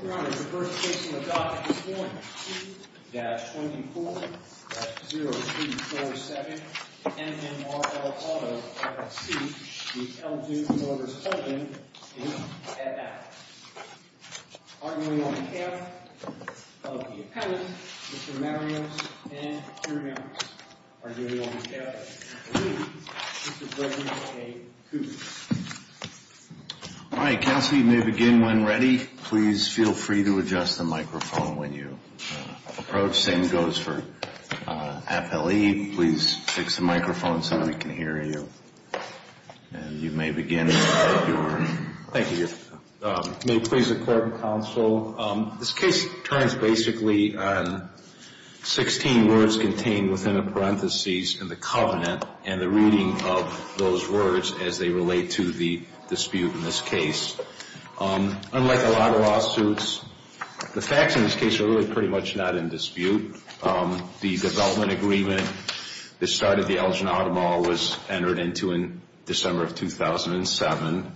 at A. Arguing on behalf of the appellant, Mr. Marios, and your members. Arguing on behalf of Mr. Lee, Mr. Gregory A. Cooper. All right, counsel, you may begin when ready. Please feel free to begin. And feel free to adjust the microphone when you approach. Same goes for appellee. Please fix the microphone so that we can hear you. And you may begin. Thank you. May it please the court and counsel, this case turns basically on 16 words contained within a parentheses in the covenant and the reading of those words as they relate to the dispute in this case. Unlike a lot of lawsuits, the facts in this case are really pretty much not in dispute. The development agreement that started the Elgin Auto Mall was entered into in December of 2007.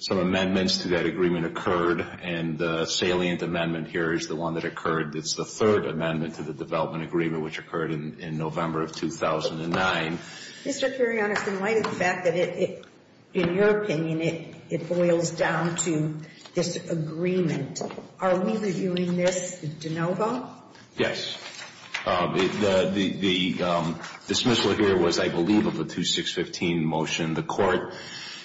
Some amendments to that agreement occurred, and the salient amendment here is the one that occurred. It's the third amendment to the development agreement, which occurred in November of 2009. Mr. Kurianos, in light of the fact that it, in your opinion, it boils down to this agreement, are we reviewing this de novo? Yes. The dismissal here was, I believe, of the 2615 motion. The court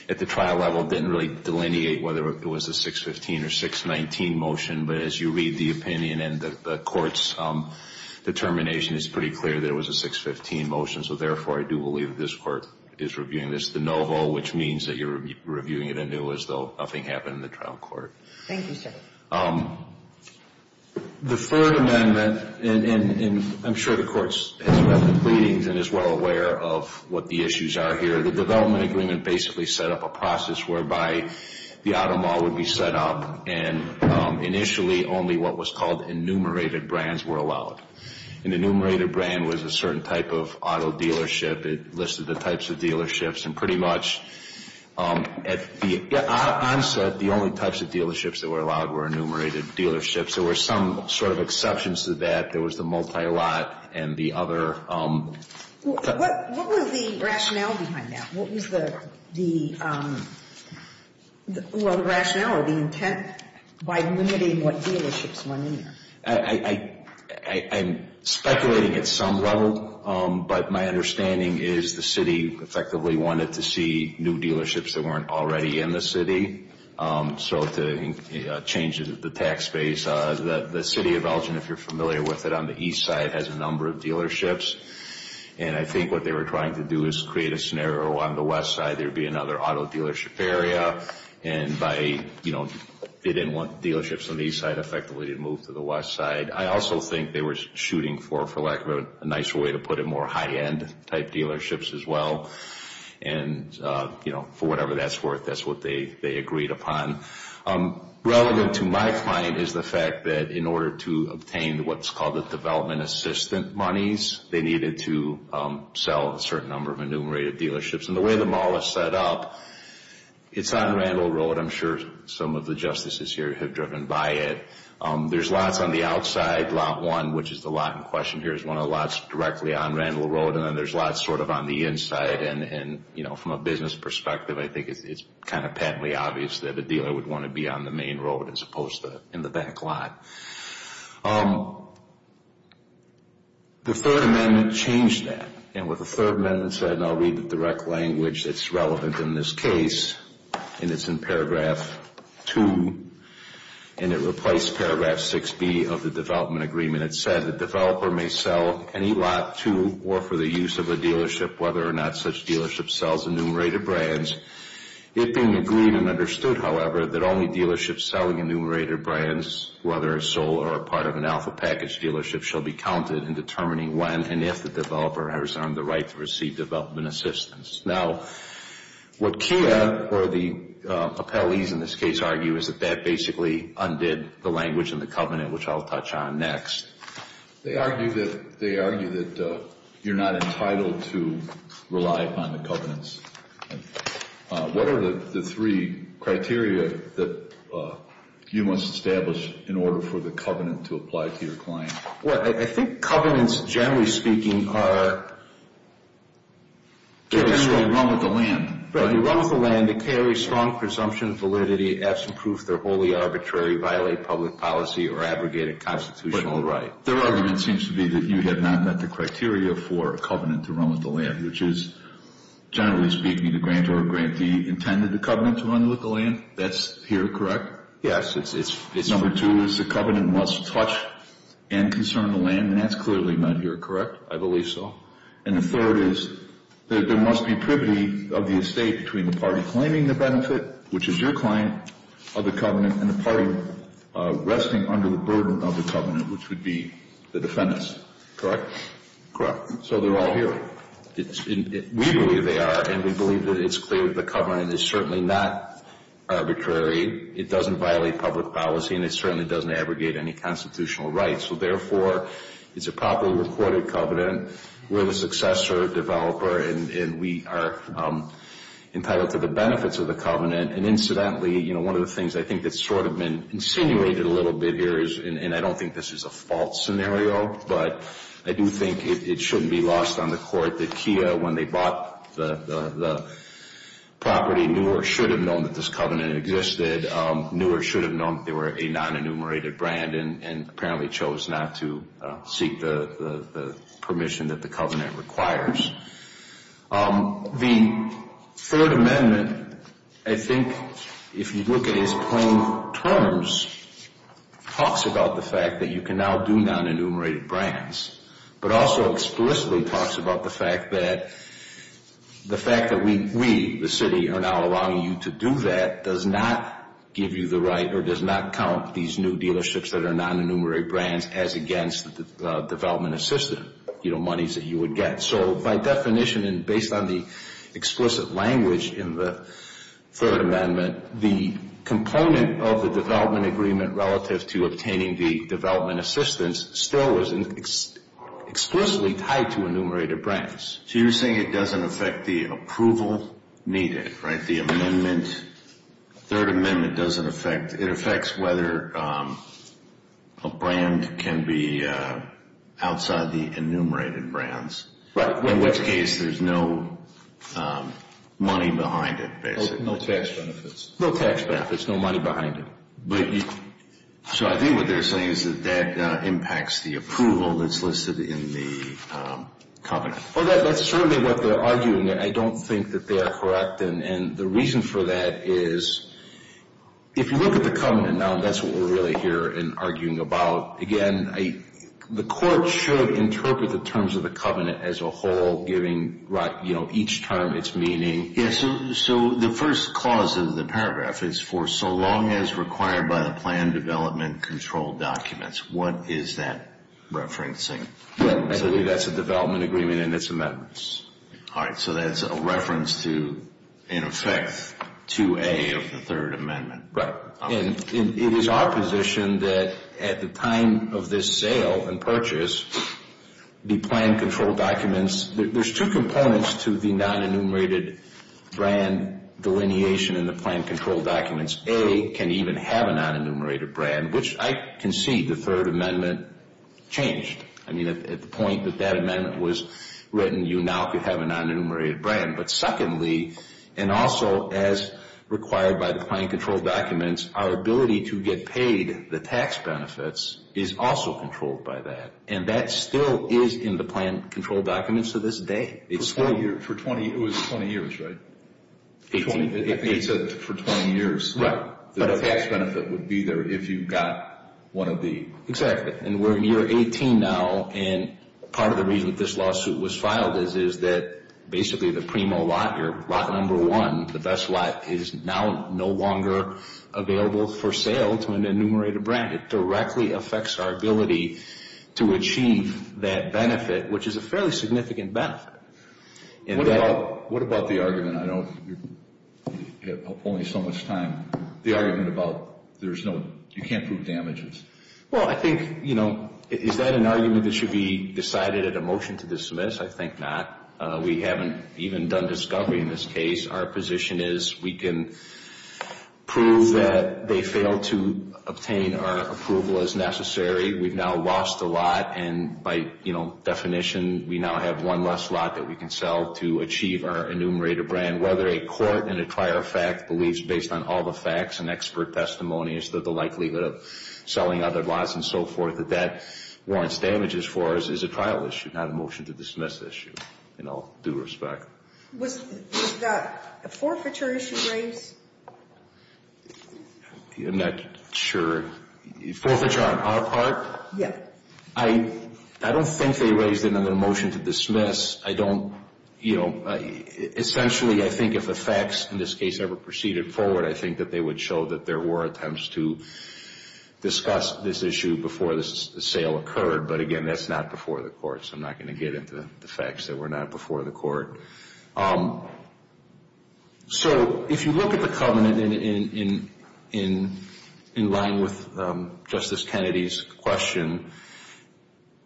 at the trial level didn't really delineate whether it was a 615 or 619 motion. But as you read the opinion and the court's determination, it's pretty clear that it was a 615 motion. So, therefore, I do believe this court is reviewing this de novo, which means that you're reviewing it anew as though nothing happened in the trial court. Thank you, sir. The third amendment, and I'm sure the court has read the readings and is well aware of what the issues are here. The development agreement basically set up a process whereby the auto mall would be set up, and initially only what was called enumerated brands were allowed. An enumerated brand was a certain type of auto dealership. It listed the types of dealerships. And pretty much at the onset, the only types of dealerships that were allowed were enumerated dealerships. There were some sort of exceptions to that. There was the multi-lot and the other. What was the rationale behind that? What was the rationale or the intent by limiting what dealerships went in there? I'm speculating at some level, but my understanding is the city effectively wanted to see new dealerships that weren't already in the city, so to change the tax base. The city of Elgin, if you're familiar with it, on the east side has a number of dealerships. And I think what they were trying to do is create a scenario on the west side, there would be another auto dealership area. And by, you know, they didn't want dealerships on the east side effectively to move to the west side. I also think they were shooting for, for lack of a nicer way to put it, more high-end type dealerships as well. And, you know, for whatever that's worth, that's what they agreed upon. Relevant to my client is the fact that in order to obtain what's called the development assistant monies, they needed to sell a certain number of enumerated dealerships. And the way them all are set up, it's on Randall Road. I'm sure some of the justices here have driven by it. There's lots on the outside. Lot 1, which is the lot in question here, is one of the lots directly on Randall Road. And then there's lots sort of on the inside. And, you know, from a business perspective, I think it's kind of patently obvious that a dealer would want to be on the main road as opposed to in the back lot. The Third Amendment changed that. And with the Third Amendment said, and I'll read the direct language that's relevant in this case, and it's in paragraph 2, and it replaced paragraph 6B of the development agreement. It said, the developer may sell any lot to or for the use of a dealership, whether or not such dealership sells enumerated brands. It being agreed and understood, however, that only dealerships selling enumerated brands, whether a sole or a part of an alpha package dealership, shall be counted in determining when and if the developer has earned the right to receive development assistance. Now, what KIA or the appellees in this case argue is that that basically undid the language in the covenant, which I'll touch on next. They argue that you're not entitled to rely upon the covenants. What are the three criteria that you must establish in order for the covenant to apply to your client? Well, I think covenants, generally speaking, are generally run with the land. Right. They run with the land. They carry strong presumption of validity, absent proof they're wholly arbitrary, violate public policy, or abrogate a constitutional right. Their argument seems to be that you have not met the criteria for a covenant to run with the land, which is, generally speaking, the grantor or grantee intended the covenant to run with the land. That's here, correct? Yes. Number two is the covenant must touch and concern the land, and that's clearly not here, correct? I believe so. And the third is that there must be privity of the estate between the party claiming the benefit, which is your client, of the covenant, and the party resting under the burden of the covenant, which would be the defendants. Correct? Correct. So they're all here. We believe they are, and we believe that it's clear that the covenant is certainly not arbitrary. It doesn't violate public policy, and it certainly doesn't abrogate any constitutional rights. So, therefore, it's a properly recorded covenant. We're the successor developer, and we are entitled to the benefits of the covenant. And incidentally, you know, one of the things I think that's sort of been insinuated a little bit here, and I don't think this is a false scenario, but I do think it shouldn't be lost on the court that Kia, when they bought the property, knew or should have known that this covenant existed, knew or should have known that they were a non-enumerated brand and apparently chose not to seek the permission that the covenant requires. The Third Amendment, I think, if you look at it as plain terms, talks about the fact that you can now do non-enumerated brands, but also explicitly talks about the fact that the fact that we, the city, are now allowing you to do that does not give you the right or does not count these new dealerships that are non-enumerated brands as against the development assistance, you know, monies that you would get. So by definition and based on the explicit language in the Third Amendment, the component of the development agreement relative to obtaining the development assistance still is explicitly tied to enumerated brands. So you're saying it doesn't affect the approval needed, right? The amendment, Third Amendment doesn't affect, it affects whether a brand can be outside the enumerated brands. Right. In which case there's no money behind it, basically. No tax benefits. No tax benefits, no money behind it. So I think what they're saying is that that impacts the approval that's listed in the covenant. Well, that's certainly what they're arguing. I don't think that they are correct. And the reason for that is if you look at the covenant now, that's what we're really here in arguing about. Again, the court should interpret the terms of the covenant as a whole, giving each term its meaning. Yes, so the first clause of the paragraph is, for so long as required by the plan development control documents. What is that referencing? I believe that's a development agreement and it's amendments. All right, so that's a reference to, in effect, to A of the Third Amendment. Right. And it is our position that at the time of this sale and purchase, the plan control documents, there's two components to the non-enumerated brand delineation in the plan control documents. A can even have a non-enumerated brand, which I can see the Third Amendment changed. I mean, at the point that that amendment was written, you now could have a non-enumerated brand. But secondly, and also as required by the plan control documents, our ability to get paid the tax benefits is also controlled by that. And that still is in the plan control documents to this day. It was 20 years, right? It's for 20 years. Right. The tax benefit would be there if you got one of the. Exactly. Right, and we're in year 18 now, and part of the reason that this lawsuit was filed is that basically the primo lot, your lot number one, the best lot, is now no longer available for sale to an enumerated brand. It directly affects our ability to achieve that benefit, which is a fairly significant benefit. What about the argument, I know you're only so much time, the argument about you can't prove damages? Well, I think, you know, is that an argument that should be decided at a motion to dismiss? I think not. We haven't even done discovery in this case. Our position is we can prove that they failed to obtain our approval as necessary. We've now lost a lot, and by, you know, definition, we now have one less lot that we can sell to achieve our enumerated brand. Whether a court in a prior fact believes based on all the facts and expert testimony as to the likelihood of selling other lots and so forth that that warrants damages for us is a trial issue, not a motion to dismiss issue in all due respect. Was that a forfeiture issue raised? I'm not sure. Forfeiture on our part? Yeah. I don't think they raised it under a motion to dismiss. I don't, you know, essentially I think if a fax in this case ever proceeded forward, I think that they would show that there were attempts to discuss this issue before the sale occurred. But, again, that's not before the court, so I'm not going to get into the facts that were not before the court. So if you look at the covenant in line with Justice Kennedy's question,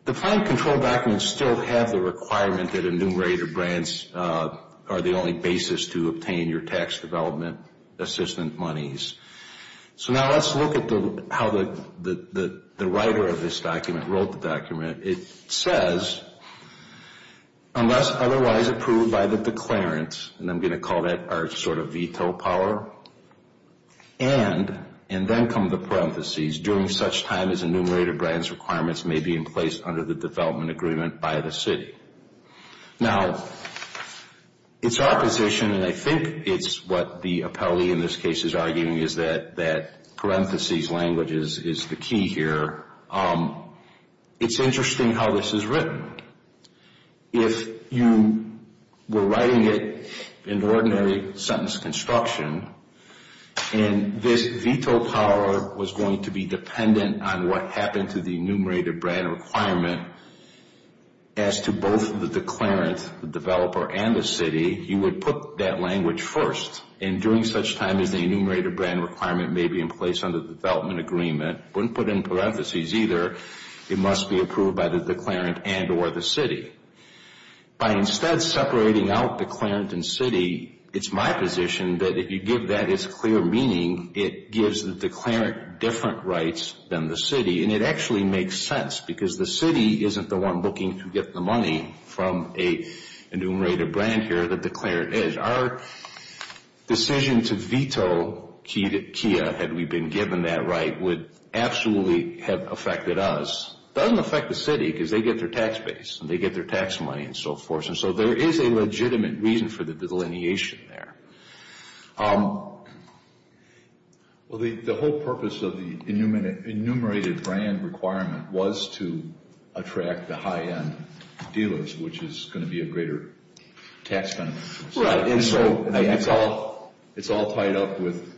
the planned control documents still have the requirement that enumerated brands are the only basis to obtain your tax development assistant monies. So now let's look at how the writer of this document wrote the document. It says, unless otherwise approved by the declarant, and I'm going to call that our sort of veto power, and then come the parentheses, during such time as enumerated brands requirements may be in place under the development agreement by the city. Now, it's our position, and I think it's what the appellee in this case is arguing, is that parentheses language is the key here. It's interesting how this is written. If you were writing it in ordinary sentence construction, and this veto power was going to be dependent on what happened to the enumerated brand requirement as to both the declarant, the developer, and the city, you would put that language first, and during such time as the enumerated brand requirement may be in place under the development agreement, wouldn't put in parentheses either, it must be approved by the declarant and or the city. By instead separating out declarant and city, it's my position that if you give that its clear meaning, it gives the declarant different rights than the city, and it actually makes sense, because the city isn't the one looking to get the money from an enumerated brand here. The declarant is. Our decision to veto Kia, had we been given that right, would absolutely have affected us. It doesn't affect the city, because they get their tax base, and they get their tax money, and so forth, and so there is a legitimate reason for the delineation there. Well, the whole purpose of the enumerated brand requirement was to attract the high-end dealers, which is going to be a greater tax benefit. Right, and so it's all tied up with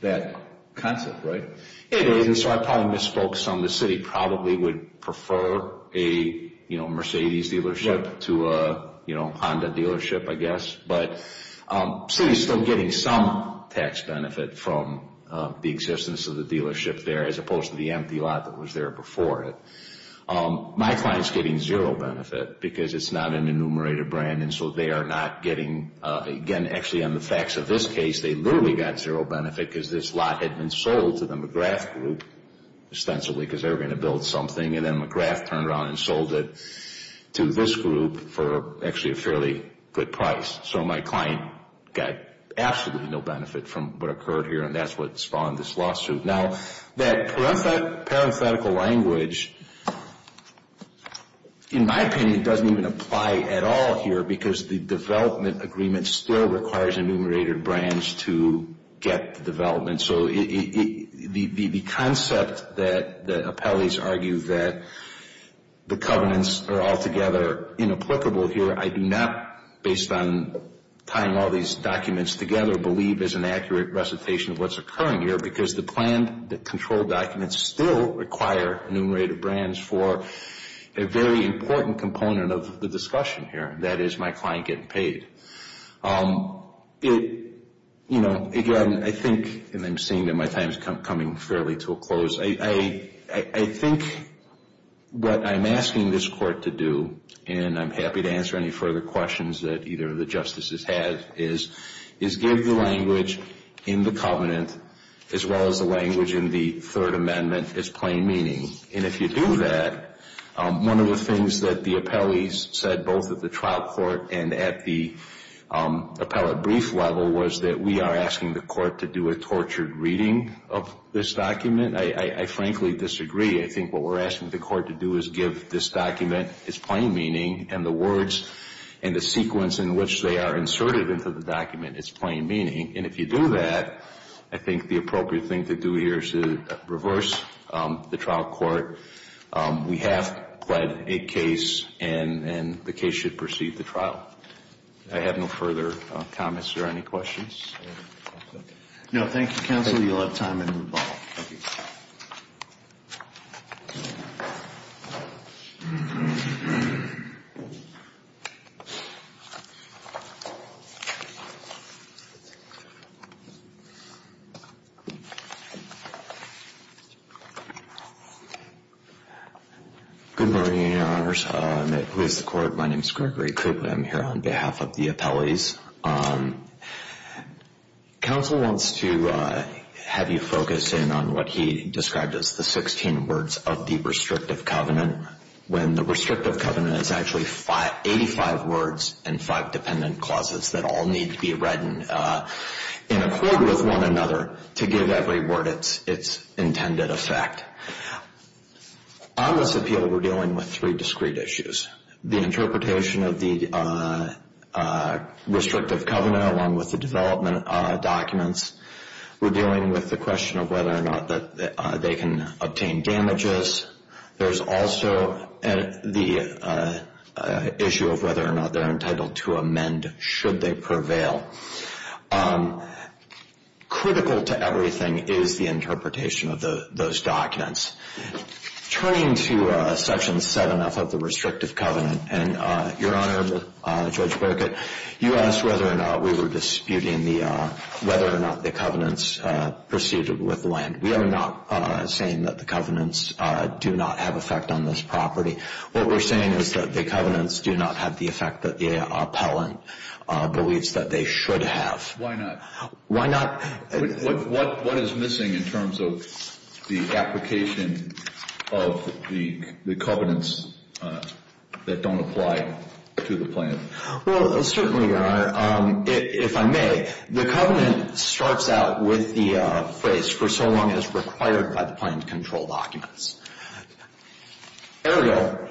that concept, right? It is, and so I probably misspoke some. The city probably would prefer a Mercedes dealership to a Honda dealership, I guess, but the city is still getting some tax benefit from the existence of the dealership there, as opposed to the empty lot that was there before it. My client is getting zero benefit, because it's not an enumerated brand, and so they are not getting, again, actually on the facts of this case, they literally got zero benefit, because this lot had been sold to the McGrath group, ostensibly because they were going to build something, and then McGrath turned around and sold it to this group for actually a fairly good price. So my client got absolutely no benefit from what occurred here, and that's what spawned this lawsuit. Now, that parenthetical language, in my opinion, doesn't even apply at all here, because the development agreement still requires enumerated brands to get the development. So the concept that appellees argue that the covenants are altogether inapplicable here, I do not, based on tying all these documents together, believe is an accurate recitation of what's occurring here, because the planned control documents still require enumerated brands for a very important component of the discussion here, and that is my client getting paid. Again, I think, and I'm seeing that my time is coming fairly to a close, I think what I'm asking this court to do, and I'm happy to answer any further questions that either of the justices has, is give the language in the covenant, as well as the language in the Third Amendment, as plain meaning. And if you do that, one of the things that the appellees said, both at the trial court and at the appellate brief level, was that we are asking the court to do a tortured reading of this document. I frankly disagree. I think what we're asking the court to do is give this document its plain meaning and the words and the sequence in which they are inserted into the document its plain meaning. And if you do that, I think the appropriate thing to do here is to reverse the trial court. We have pled a case, and the case should proceed to trial. I have no further comments or any questions. No, thank you, counsel. You'll have time to move on. Thank you. Good morning, Your Honors. Who is the court? My name is Gregory Cooper. I'm here on behalf of the appellees. Counsel wants to have you focus in on what he described as the 16 words of the restrictive covenant, when the restrictive covenant is actually 85 words and five dependent clauses that all need to be read in accord with one another to give every word its intended effect. On this appeal, we're dealing with three discrete issues. The interpretation of the restrictive covenant along with the development documents. We're dealing with the question of whether or not they can obtain damages. There's also the issue of whether or not they're entitled to amend should they prevail. Critical to everything is the interpretation of those documents. Turning to Section 7F of the restrictive covenant, and Your Honor, Judge Birkett, you asked whether or not we were disputing whether or not the covenants pursued with land. We are not saying that the covenants do not have effect on this property. What we're saying is that the covenants do not have the effect that the appellant believes that they should have. Why not? Why not? What is missing in terms of the application of the covenants that don't apply to the plan? Well, certainly, Your Honor, if I may, the covenant starts out with the phrase for so long as required by the plan to control documents. Ariel,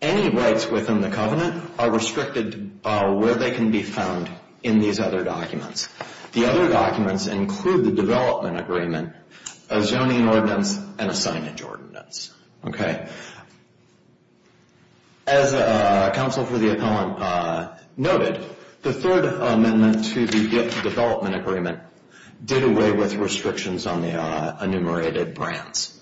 any rights within the covenant are restricted where they can be found in these other documents. The other documents include the development agreement, a zoning ordinance, and a signage ordinance. Okay? As counsel for the appellant noted, the third amendment to the development agreement did away with restrictions on the enumerated brands.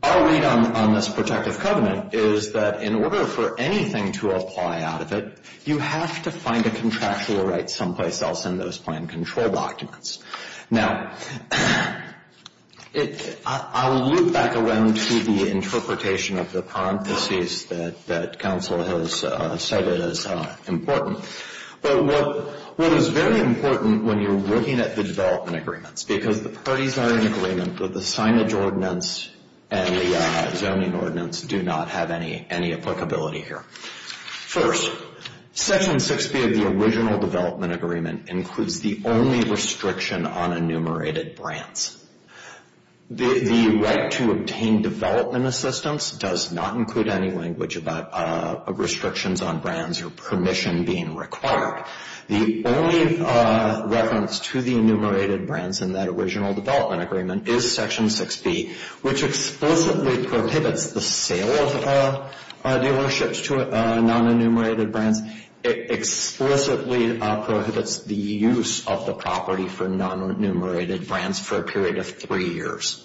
Our read on this protective covenant is that in order for anything to apply out of it, you have to find a contractual right someplace else in those plan control documents. Now, I will loop back around to the interpretation of the parentheses that counsel has cited as important. But what is very important when you're looking at the development agreements, because the parties are in agreement that the signage ordinance and the zoning ordinance do not have any applicability here. First, Section 6B of the original development agreement includes the only restriction on enumerated brands. The right to obtain development assistance does not include any language about restrictions on brands or permission being required. The only reference to the enumerated brands in that original development agreement is Section 6B, which explicitly prohibits the sale of dealerships to non-enumerated brands. It explicitly prohibits the use of the property for non-enumerated brands for a period of three years.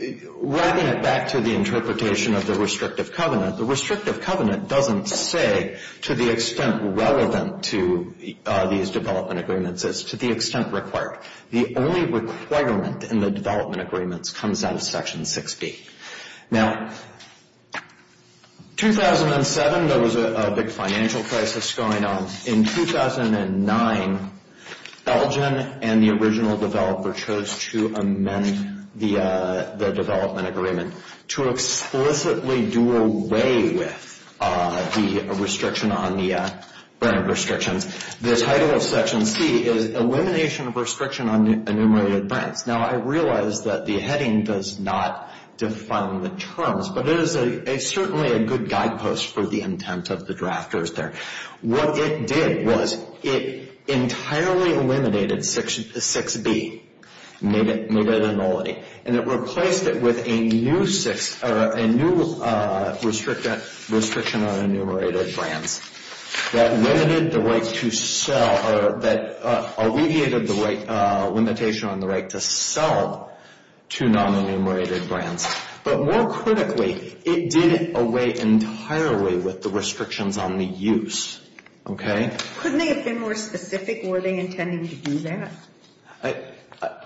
Wrapping it back to the interpretation of the restrictive covenant, the restrictive covenant doesn't say to the extent relevant to these development agreements. It's to the extent required. The only requirement in the development agreements comes out of Section 6B. Now, 2007, there was a big financial crisis going on. In 2009, Elgin and the original developer chose to amend the development agreement to explicitly do away with the restriction on the brand restrictions. The title of Section C is Elimination of Restriction on Enumerated Brands. Now, I realize that the heading does not define the terms, but it is certainly a good guidepost for the intent of the drafters there. What it did was it entirely eliminated Section 6B, and it replaced it with a new restriction on enumerated brands that limited the right to sell or that alleviated the limitation on the right to sell to non-enumerated brands. But more critically, it did away entirely with the restrictions on the use. Okay? Couldn't they have been more specific? Were they intending to do that?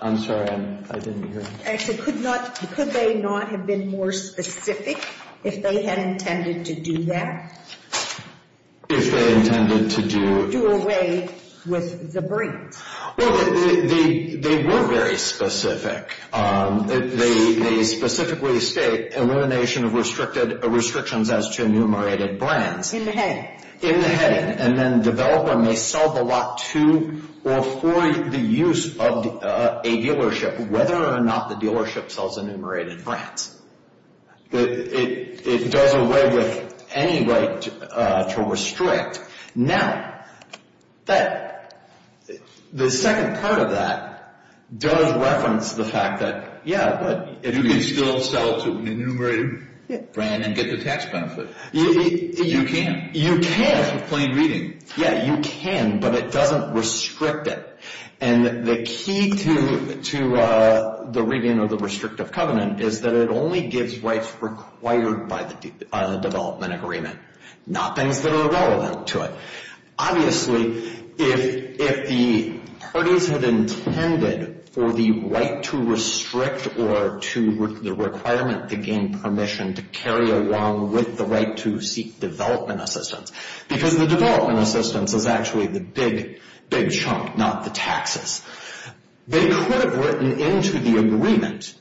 I'm sorry. I didn't hear you. Actually, could they not have been more specific if they had intended to do that? If they intended to do? Do away with the brand. Well, they were very specific. They specifically state elimination of restrictions as to enumerated brands. In the heading. In the heading, and then developer may sell the lot to or for the use of a dealership, as to whether or not the dealership sells enumerated brands. It does away with any right to restrict. Now, the second part of that does reference the fact that, yeah. You can still sell to an enumerated brand and get the tax benefit. You can. You can. With plain reading. Yeah, you can, but it doesn't restrict it. And the key to the reading of the restrictive covenant is that it only gives rights required by the development agreement. Not things that are relevant to it. Obviously, if the parties had intended for the right to restrict or to the requirement to gain permission to carry along with the right to seek development assistance, because the development assistance is actually the big, big chunk, not the taxes. They could have written into the agreement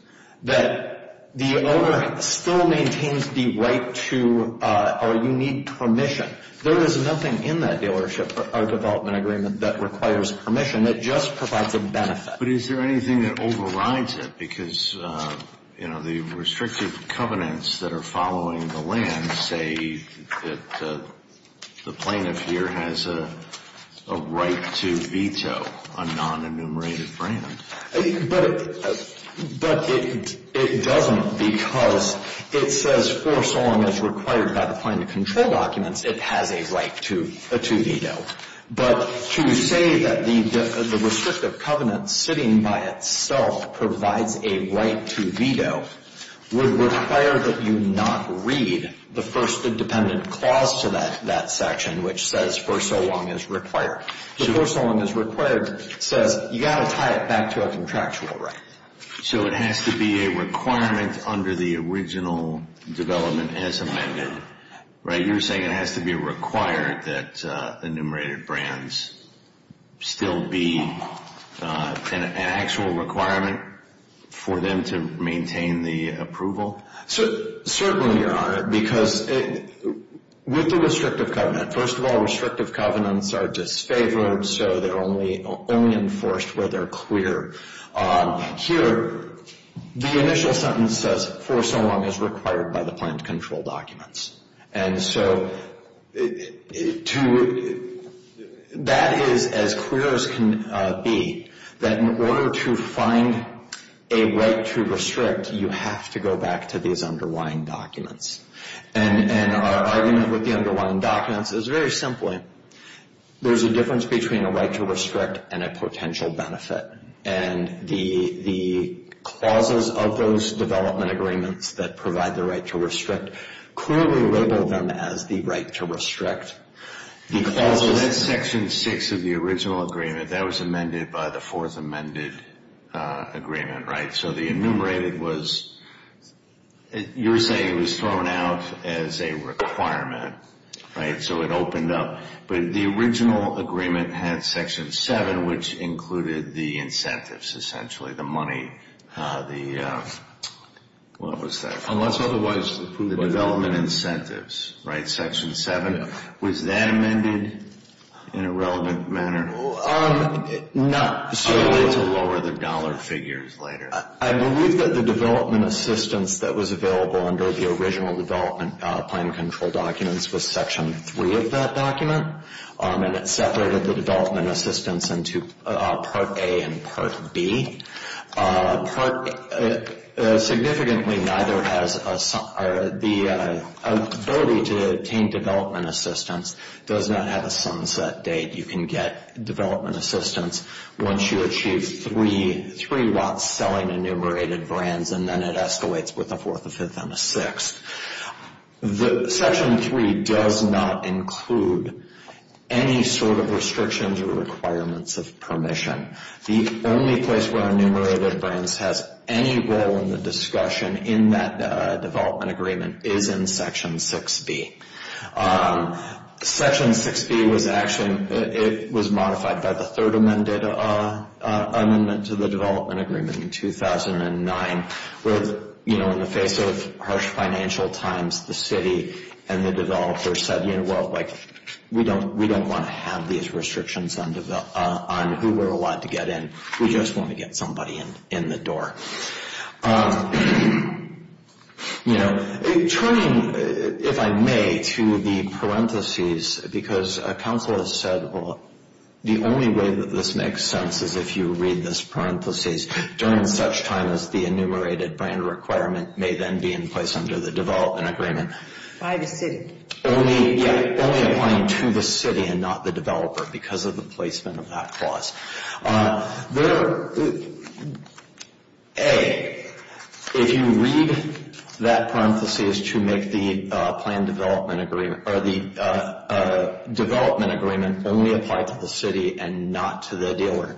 that the owner still maintains the right to or you need permission. There is nothing in that dealership or development agreement that requires permission. It just provides a benefit. But is there anything that overrides it? Because, you know, the restrictive covenants that are following the land say that the plaintiff here has a right to veto a non-enumerated brand. But it doesn't because it says for so long as required by the plaintiff control documents, it has a right to veto. But to say that the restrictive covenant sitting by itself provides a right to veto would require that you not read the first independent clause to that section, which says for so long as required. The for so long as required says you've got to tie it back to a contractual right. So it has to be a requirement under the original development as amended, right? You're saying it has to be required that enumerated brands still be an actual requirement for them to maintain the approval? Certainly, Your Honor, because with the restrictive covenant, first of all, restrictive covenants are disfavored, so they're only enforced where they're clear. Here, the initial sentence says for so long as required by the plaintiff control documents. And so that is as clear as can be that in order to find a right to restrict, you have to go back to these underlying documents. And our argument with the underlying documents is very simply there's a difference between a right to restrict and a potential benefit. And the clauses of those development agreements that provide the right to restrict clearly label them as the right to restrict. So that's section six of the original agreement. That was amended by the fourth amended agreement, right? So the enumerated was you're saying it was thrown out as a requirement, right? So it opened up. But the original agreement had section seven, which included the incentives, essentially, the money, the what was that? Unless otherwise approved by the government. The development incentives, right, section seven? Yeah. Was that amended in a relevant manner? Not to lower the dollar figures later. I believe that the development assistance that was available under the original development plan control documents was section three of that document. And it separated the development assistance into part A and part B. Significantly, neither has the ability to obtain development assistance does not have a sunset date. You can get development assistance once you achieve three lots selling enumerated brands, and then it escalates with a fourth, a fifth, and a sixth. Section three does not include any sort of restrictions or requirements of permission. The only place where enumerated brands has any role in the discussion in that development agreement is in section 6B. Section 6B was actually, it was modified by the third amendment to the development agreement in 2009, where, you know, in the face of harsh financial times, the city and the developer said, you know, well, like, we don't want to have these restrictions on who we're allowed to get in. We just want to get somebody in the door. You know, turning, if I may, to the parentheses, because a council has said, well, the only way that this makes sense is if you read this parentheses, during such time as the enumerated brand requirement may then be in place under the development agreement. By the city. Only, yeah, only applying to the city and not the developer because of the placement of that clause. There, A, if you read that parentheses to make the plan development agreement, or the development agreement only apply to the city and not to the dealer,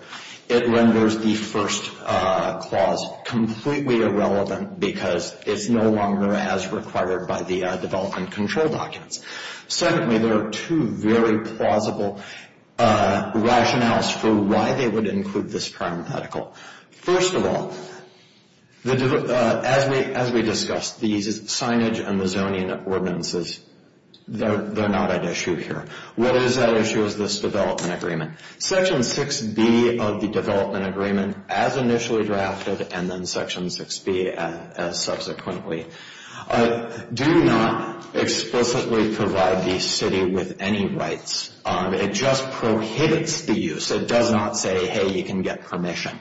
it renders the first clause completely irrelevant because it's no longer as required by the development control documents. Secondly, there are two very plausible rationales for why they would include this parenthetical. First of all, as we discussed, these signage and the zoning ordinances, they're not at issue here. What is at issue is this development agreement. Section 6B of the development agreement, as initially drafted, and then Section 6B as subsequently, do not explicitly provide the city with any rights. It just prohibits the use. It does not say, hey, you can get permission.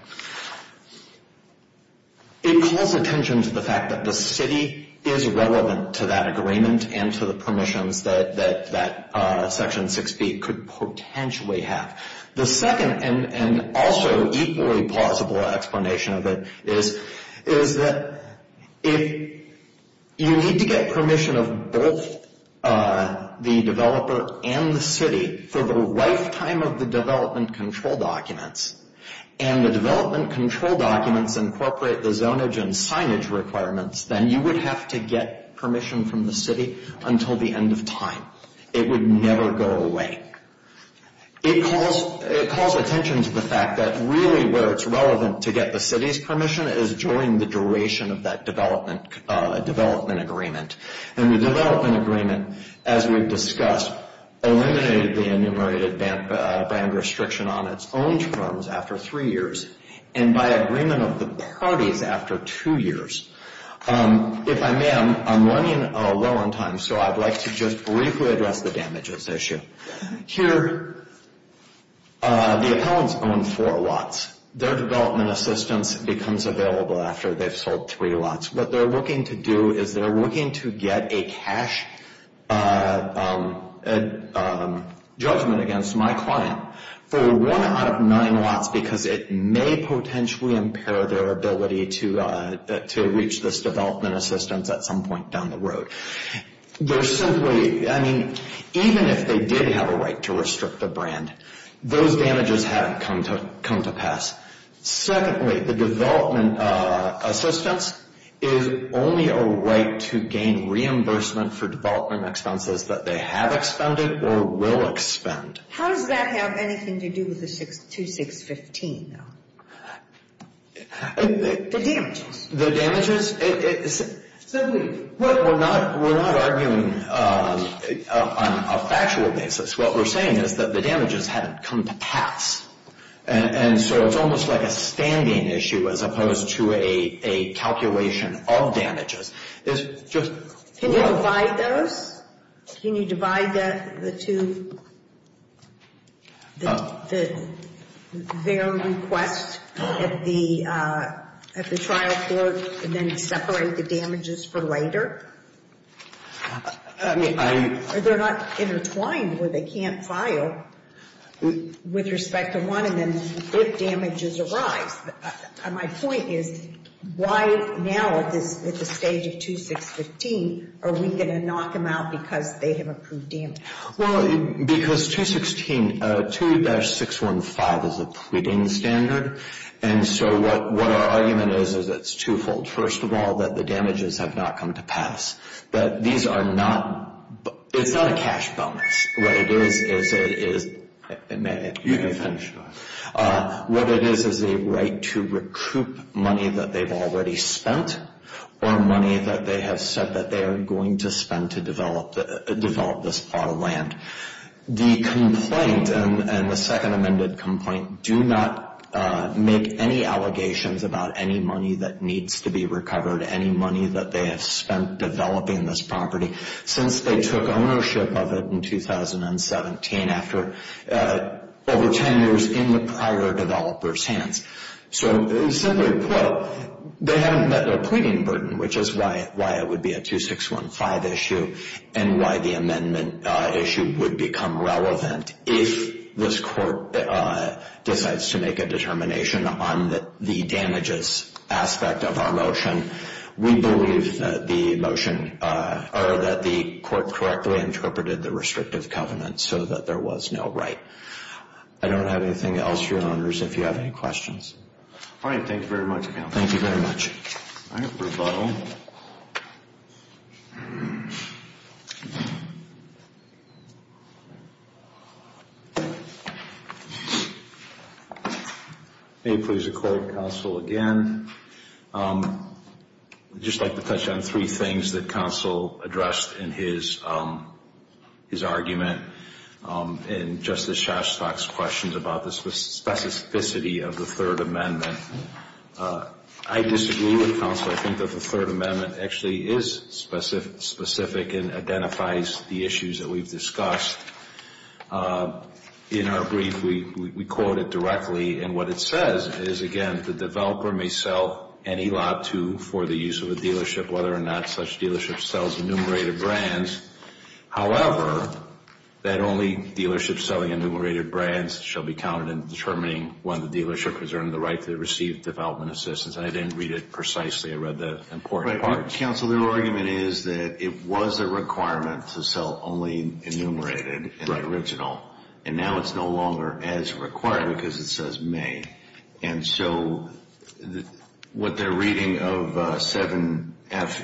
It calls attention to the fact that the city is relevant to that agreement and to the permissions that Section 6B could potentially have. The second, and also equally plausible explanation of it, is that if you need to get permission of both the developer and the city for the lifetime of the development control documents, and the development control documents incorporate the zonage and signage requirements, then you would have to get permission from the city until the end of time. It would never go away. It calls attention to the fact that really where it's relevant to get the city's permission is during the duration of that development agreement. And the development agreement, as we've discussed, eliminated the enumerated band restriction on its own terms after three years and by agreement of the parties after two years. If I may, I'm running low on time, so I'd like to just briefly address the damages issue. Here, the appellants own four lots. Their development assistance becomes available after they've sold three lots. What they're looking to do is they're looking to get a cash judgment against my client for one out of nine lots because it may potentially impair their ability to reach this development assistance at some point down the road. They're simply, I mean, even if they did have a right to restrict the brand, those damages haven't come to pass. Secondly, the development assistance is only a right to gain reimbursement for development expenses that they have expended or will expend. How does that have anything to do with the 2615, though? The damages. The damages? We're not arguing on a factual basis. What we're saying is that the damages haven't come to pass, and so it's almost like a standing issue as opposed to a calculation of damages. Can you divide those? Can you divide the two? Their request at the trial court and then separate the damages for later? I mean, I'm. They're not intertwined where they can't file with respect to one and then if damages arise. My point is why now at the stage of 2615 are we going to knock them out because they have approved damages? Well, because 2615, 2-615 is a pre-din standard, and so what our argument is is it's twofold. First of all, that the damages have not come to pass. These are not. It's not a cash bonus. What it is is. You can finish. What it is is a right to recoup money that they've already spent or money that they have said that they are going to spend to develop this plot of land. The complaint and the second amended complaint do not make any allegations about any money that needs to be recovered, any money that they have spent developing this property since they took ownership of it in 2017. After over 10 years in the prior developer's hands. So simply put, they haven't met their pleading burden, which is why it would be a 2615 issue and why the amendment issue would become relevant if this court decides to make a determination on the damages aspect of our motion. We believe that the motion or that the court correctly interpreted the restrictive covenant so that there was no right. I don't have anything else, Your Honors, if you have any questions. All right. Thank you very much, Counsel. Thank you very much. All right. May it please the Court, Counsel, again. I'd just like to touch on three things that Counsel addressed in his argument in Justice Shastok's questions about the specificity of the Third Amendment. I disagree with Counsel. I think that the Third Amendment actually is specific and identifies the issues that we've discussed. In our brief, we quote it directly. And what it says is, again, the developer may sell any lot to for the use of a dealership, whether or not such dealership sells enumerated brands. However, that only dealerships selling enumerated brands shall be counted in determining whether the dealership has earned the right to receive development assistance. And I didn't read it precisely. I read the important part. Counsel, their argument is that it was a requirement to sell only enumerated and original. And now it's no longer as required because it says may. And so what their reading of 7F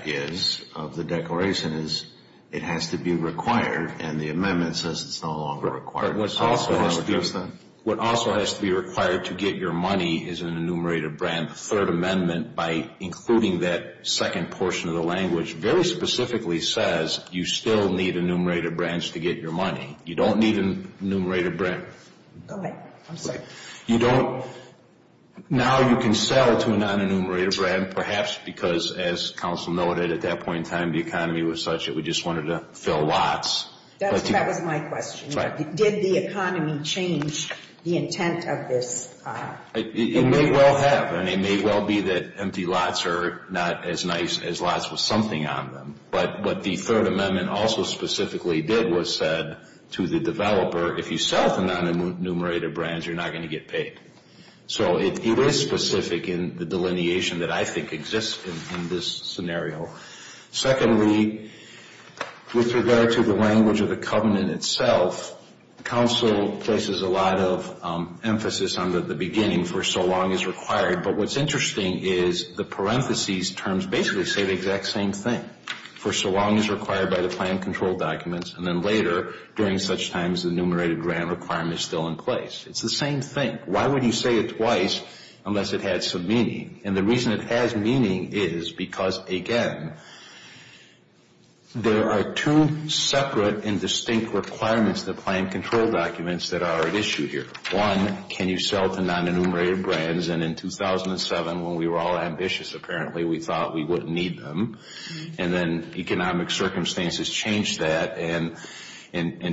is, of the declaration, is it has to be required. And the amendment says it's no longer required. What also has to be required to get your money is an enumerated brand. The Third Amendment, by including that second portion of the language, very specifically says you still need enumerated brands to get your money. You don't need an enumerated brand. Go ahead. I'm sorry. You don't. Now you can sell to a non-enumerated brand, perhaps because, as counsel noted, at that point in time the economy was such that we just wanted to fill lots. That was my question. Did the economy change the intent of this? It may well have. And it may well be that empty lots are not as nice as lots with something on them. But what the Third Amendment also specifically did was said to the developer, if you sell to non-enumerated brands, you're not going to get paid. So it is specific in the delineation that I think exists in this scenario. Secondly, with regard to the language of the covenant itself, counsel places a lot of emphasis on the beginning, for so long as required. But what's interesting is the parentheses terms basically say the exact same thing, for so long as required by the plan control documents, and then later during such times the enumerated brand requirement is still in place. It's the same thing. Why would you say it twice unless it had some meaning? And the reason it has meaning is because, again, there are two separate and distinct requirements in the plan control documents that are at issue here. One, can you sell to non-enumerated brands? And in 2007, when we were all ambitious apparently, we thought we wouldn't need them. And then economic circumstances changed that and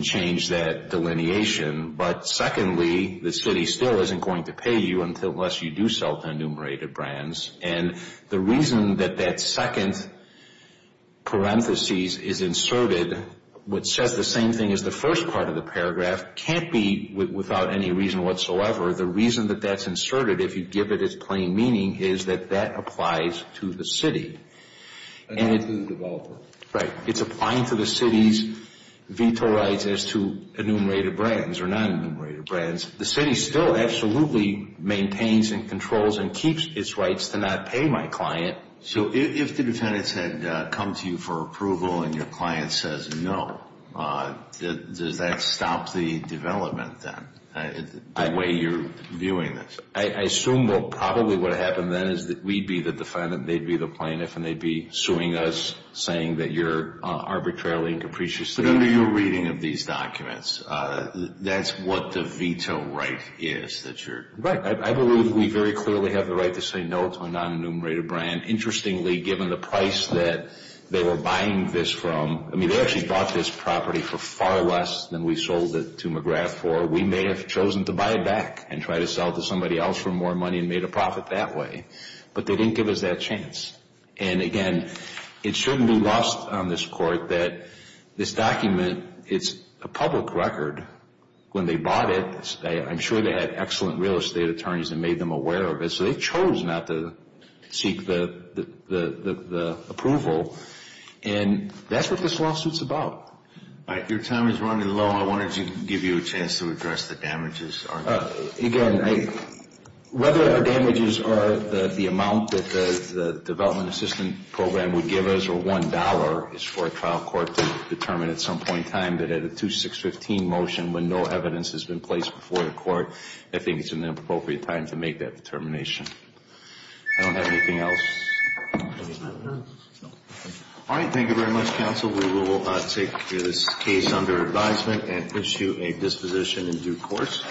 changed that delineation. But secondly, the city still isn't going to pay you unless you do sell to enumerated brands. And the reason that that second parentheses is inserted, which says the same thing as the first part of the paragraph, can't be without any reason whatsoever. The reason that that's inserted, if you give it its plain meaning, is that that applies to the city. And it's the developer. Right. It's applying to the city's veto rights as to enumerated brands or non-enumerated brands. The city still absolutely maintains and controls and keeps its rights to not pay my client. So if the defendants had come to you for approval and your client says no, does that stop the development then, the way you're viewing this? I assume, well, probably what would happen then is that we'd be the defendant, they'd be the plaintiff, and they'd be suing us, saying that you're arbitrarily and capriciously. But under your reading of these documents, that's what the veto right is, that you're... Interestingly, given the price that they were buying this from... I mean, they actually bought this property for far less than we sold it to McGrath for. We may have chosen to buy it back and try to sell it to somebody else for more money and made a profit that way. But they didn't give us that chance. And, again, it shouldn't be lost on this Court that this document, it's a public record. When they bought it, I'm sure they had excellent real estate attorneys that made them aware of it. So they chose not to seek the approval. And that's what this lawsuit's about. Your time is running low. I wanted to give you a chance to address the damages. Again, whether the damages are the amount that the Development Assistance Program would give us or $1 is for a trial court to determine at some point in time that at a 2-6-15 motion when no evidence has been placed before the court, I think it's an appropriate time to make that determination. I don't have anything else. All right. Thank you very much, counsel. We will take this case under advisement and issue a disposition in due course.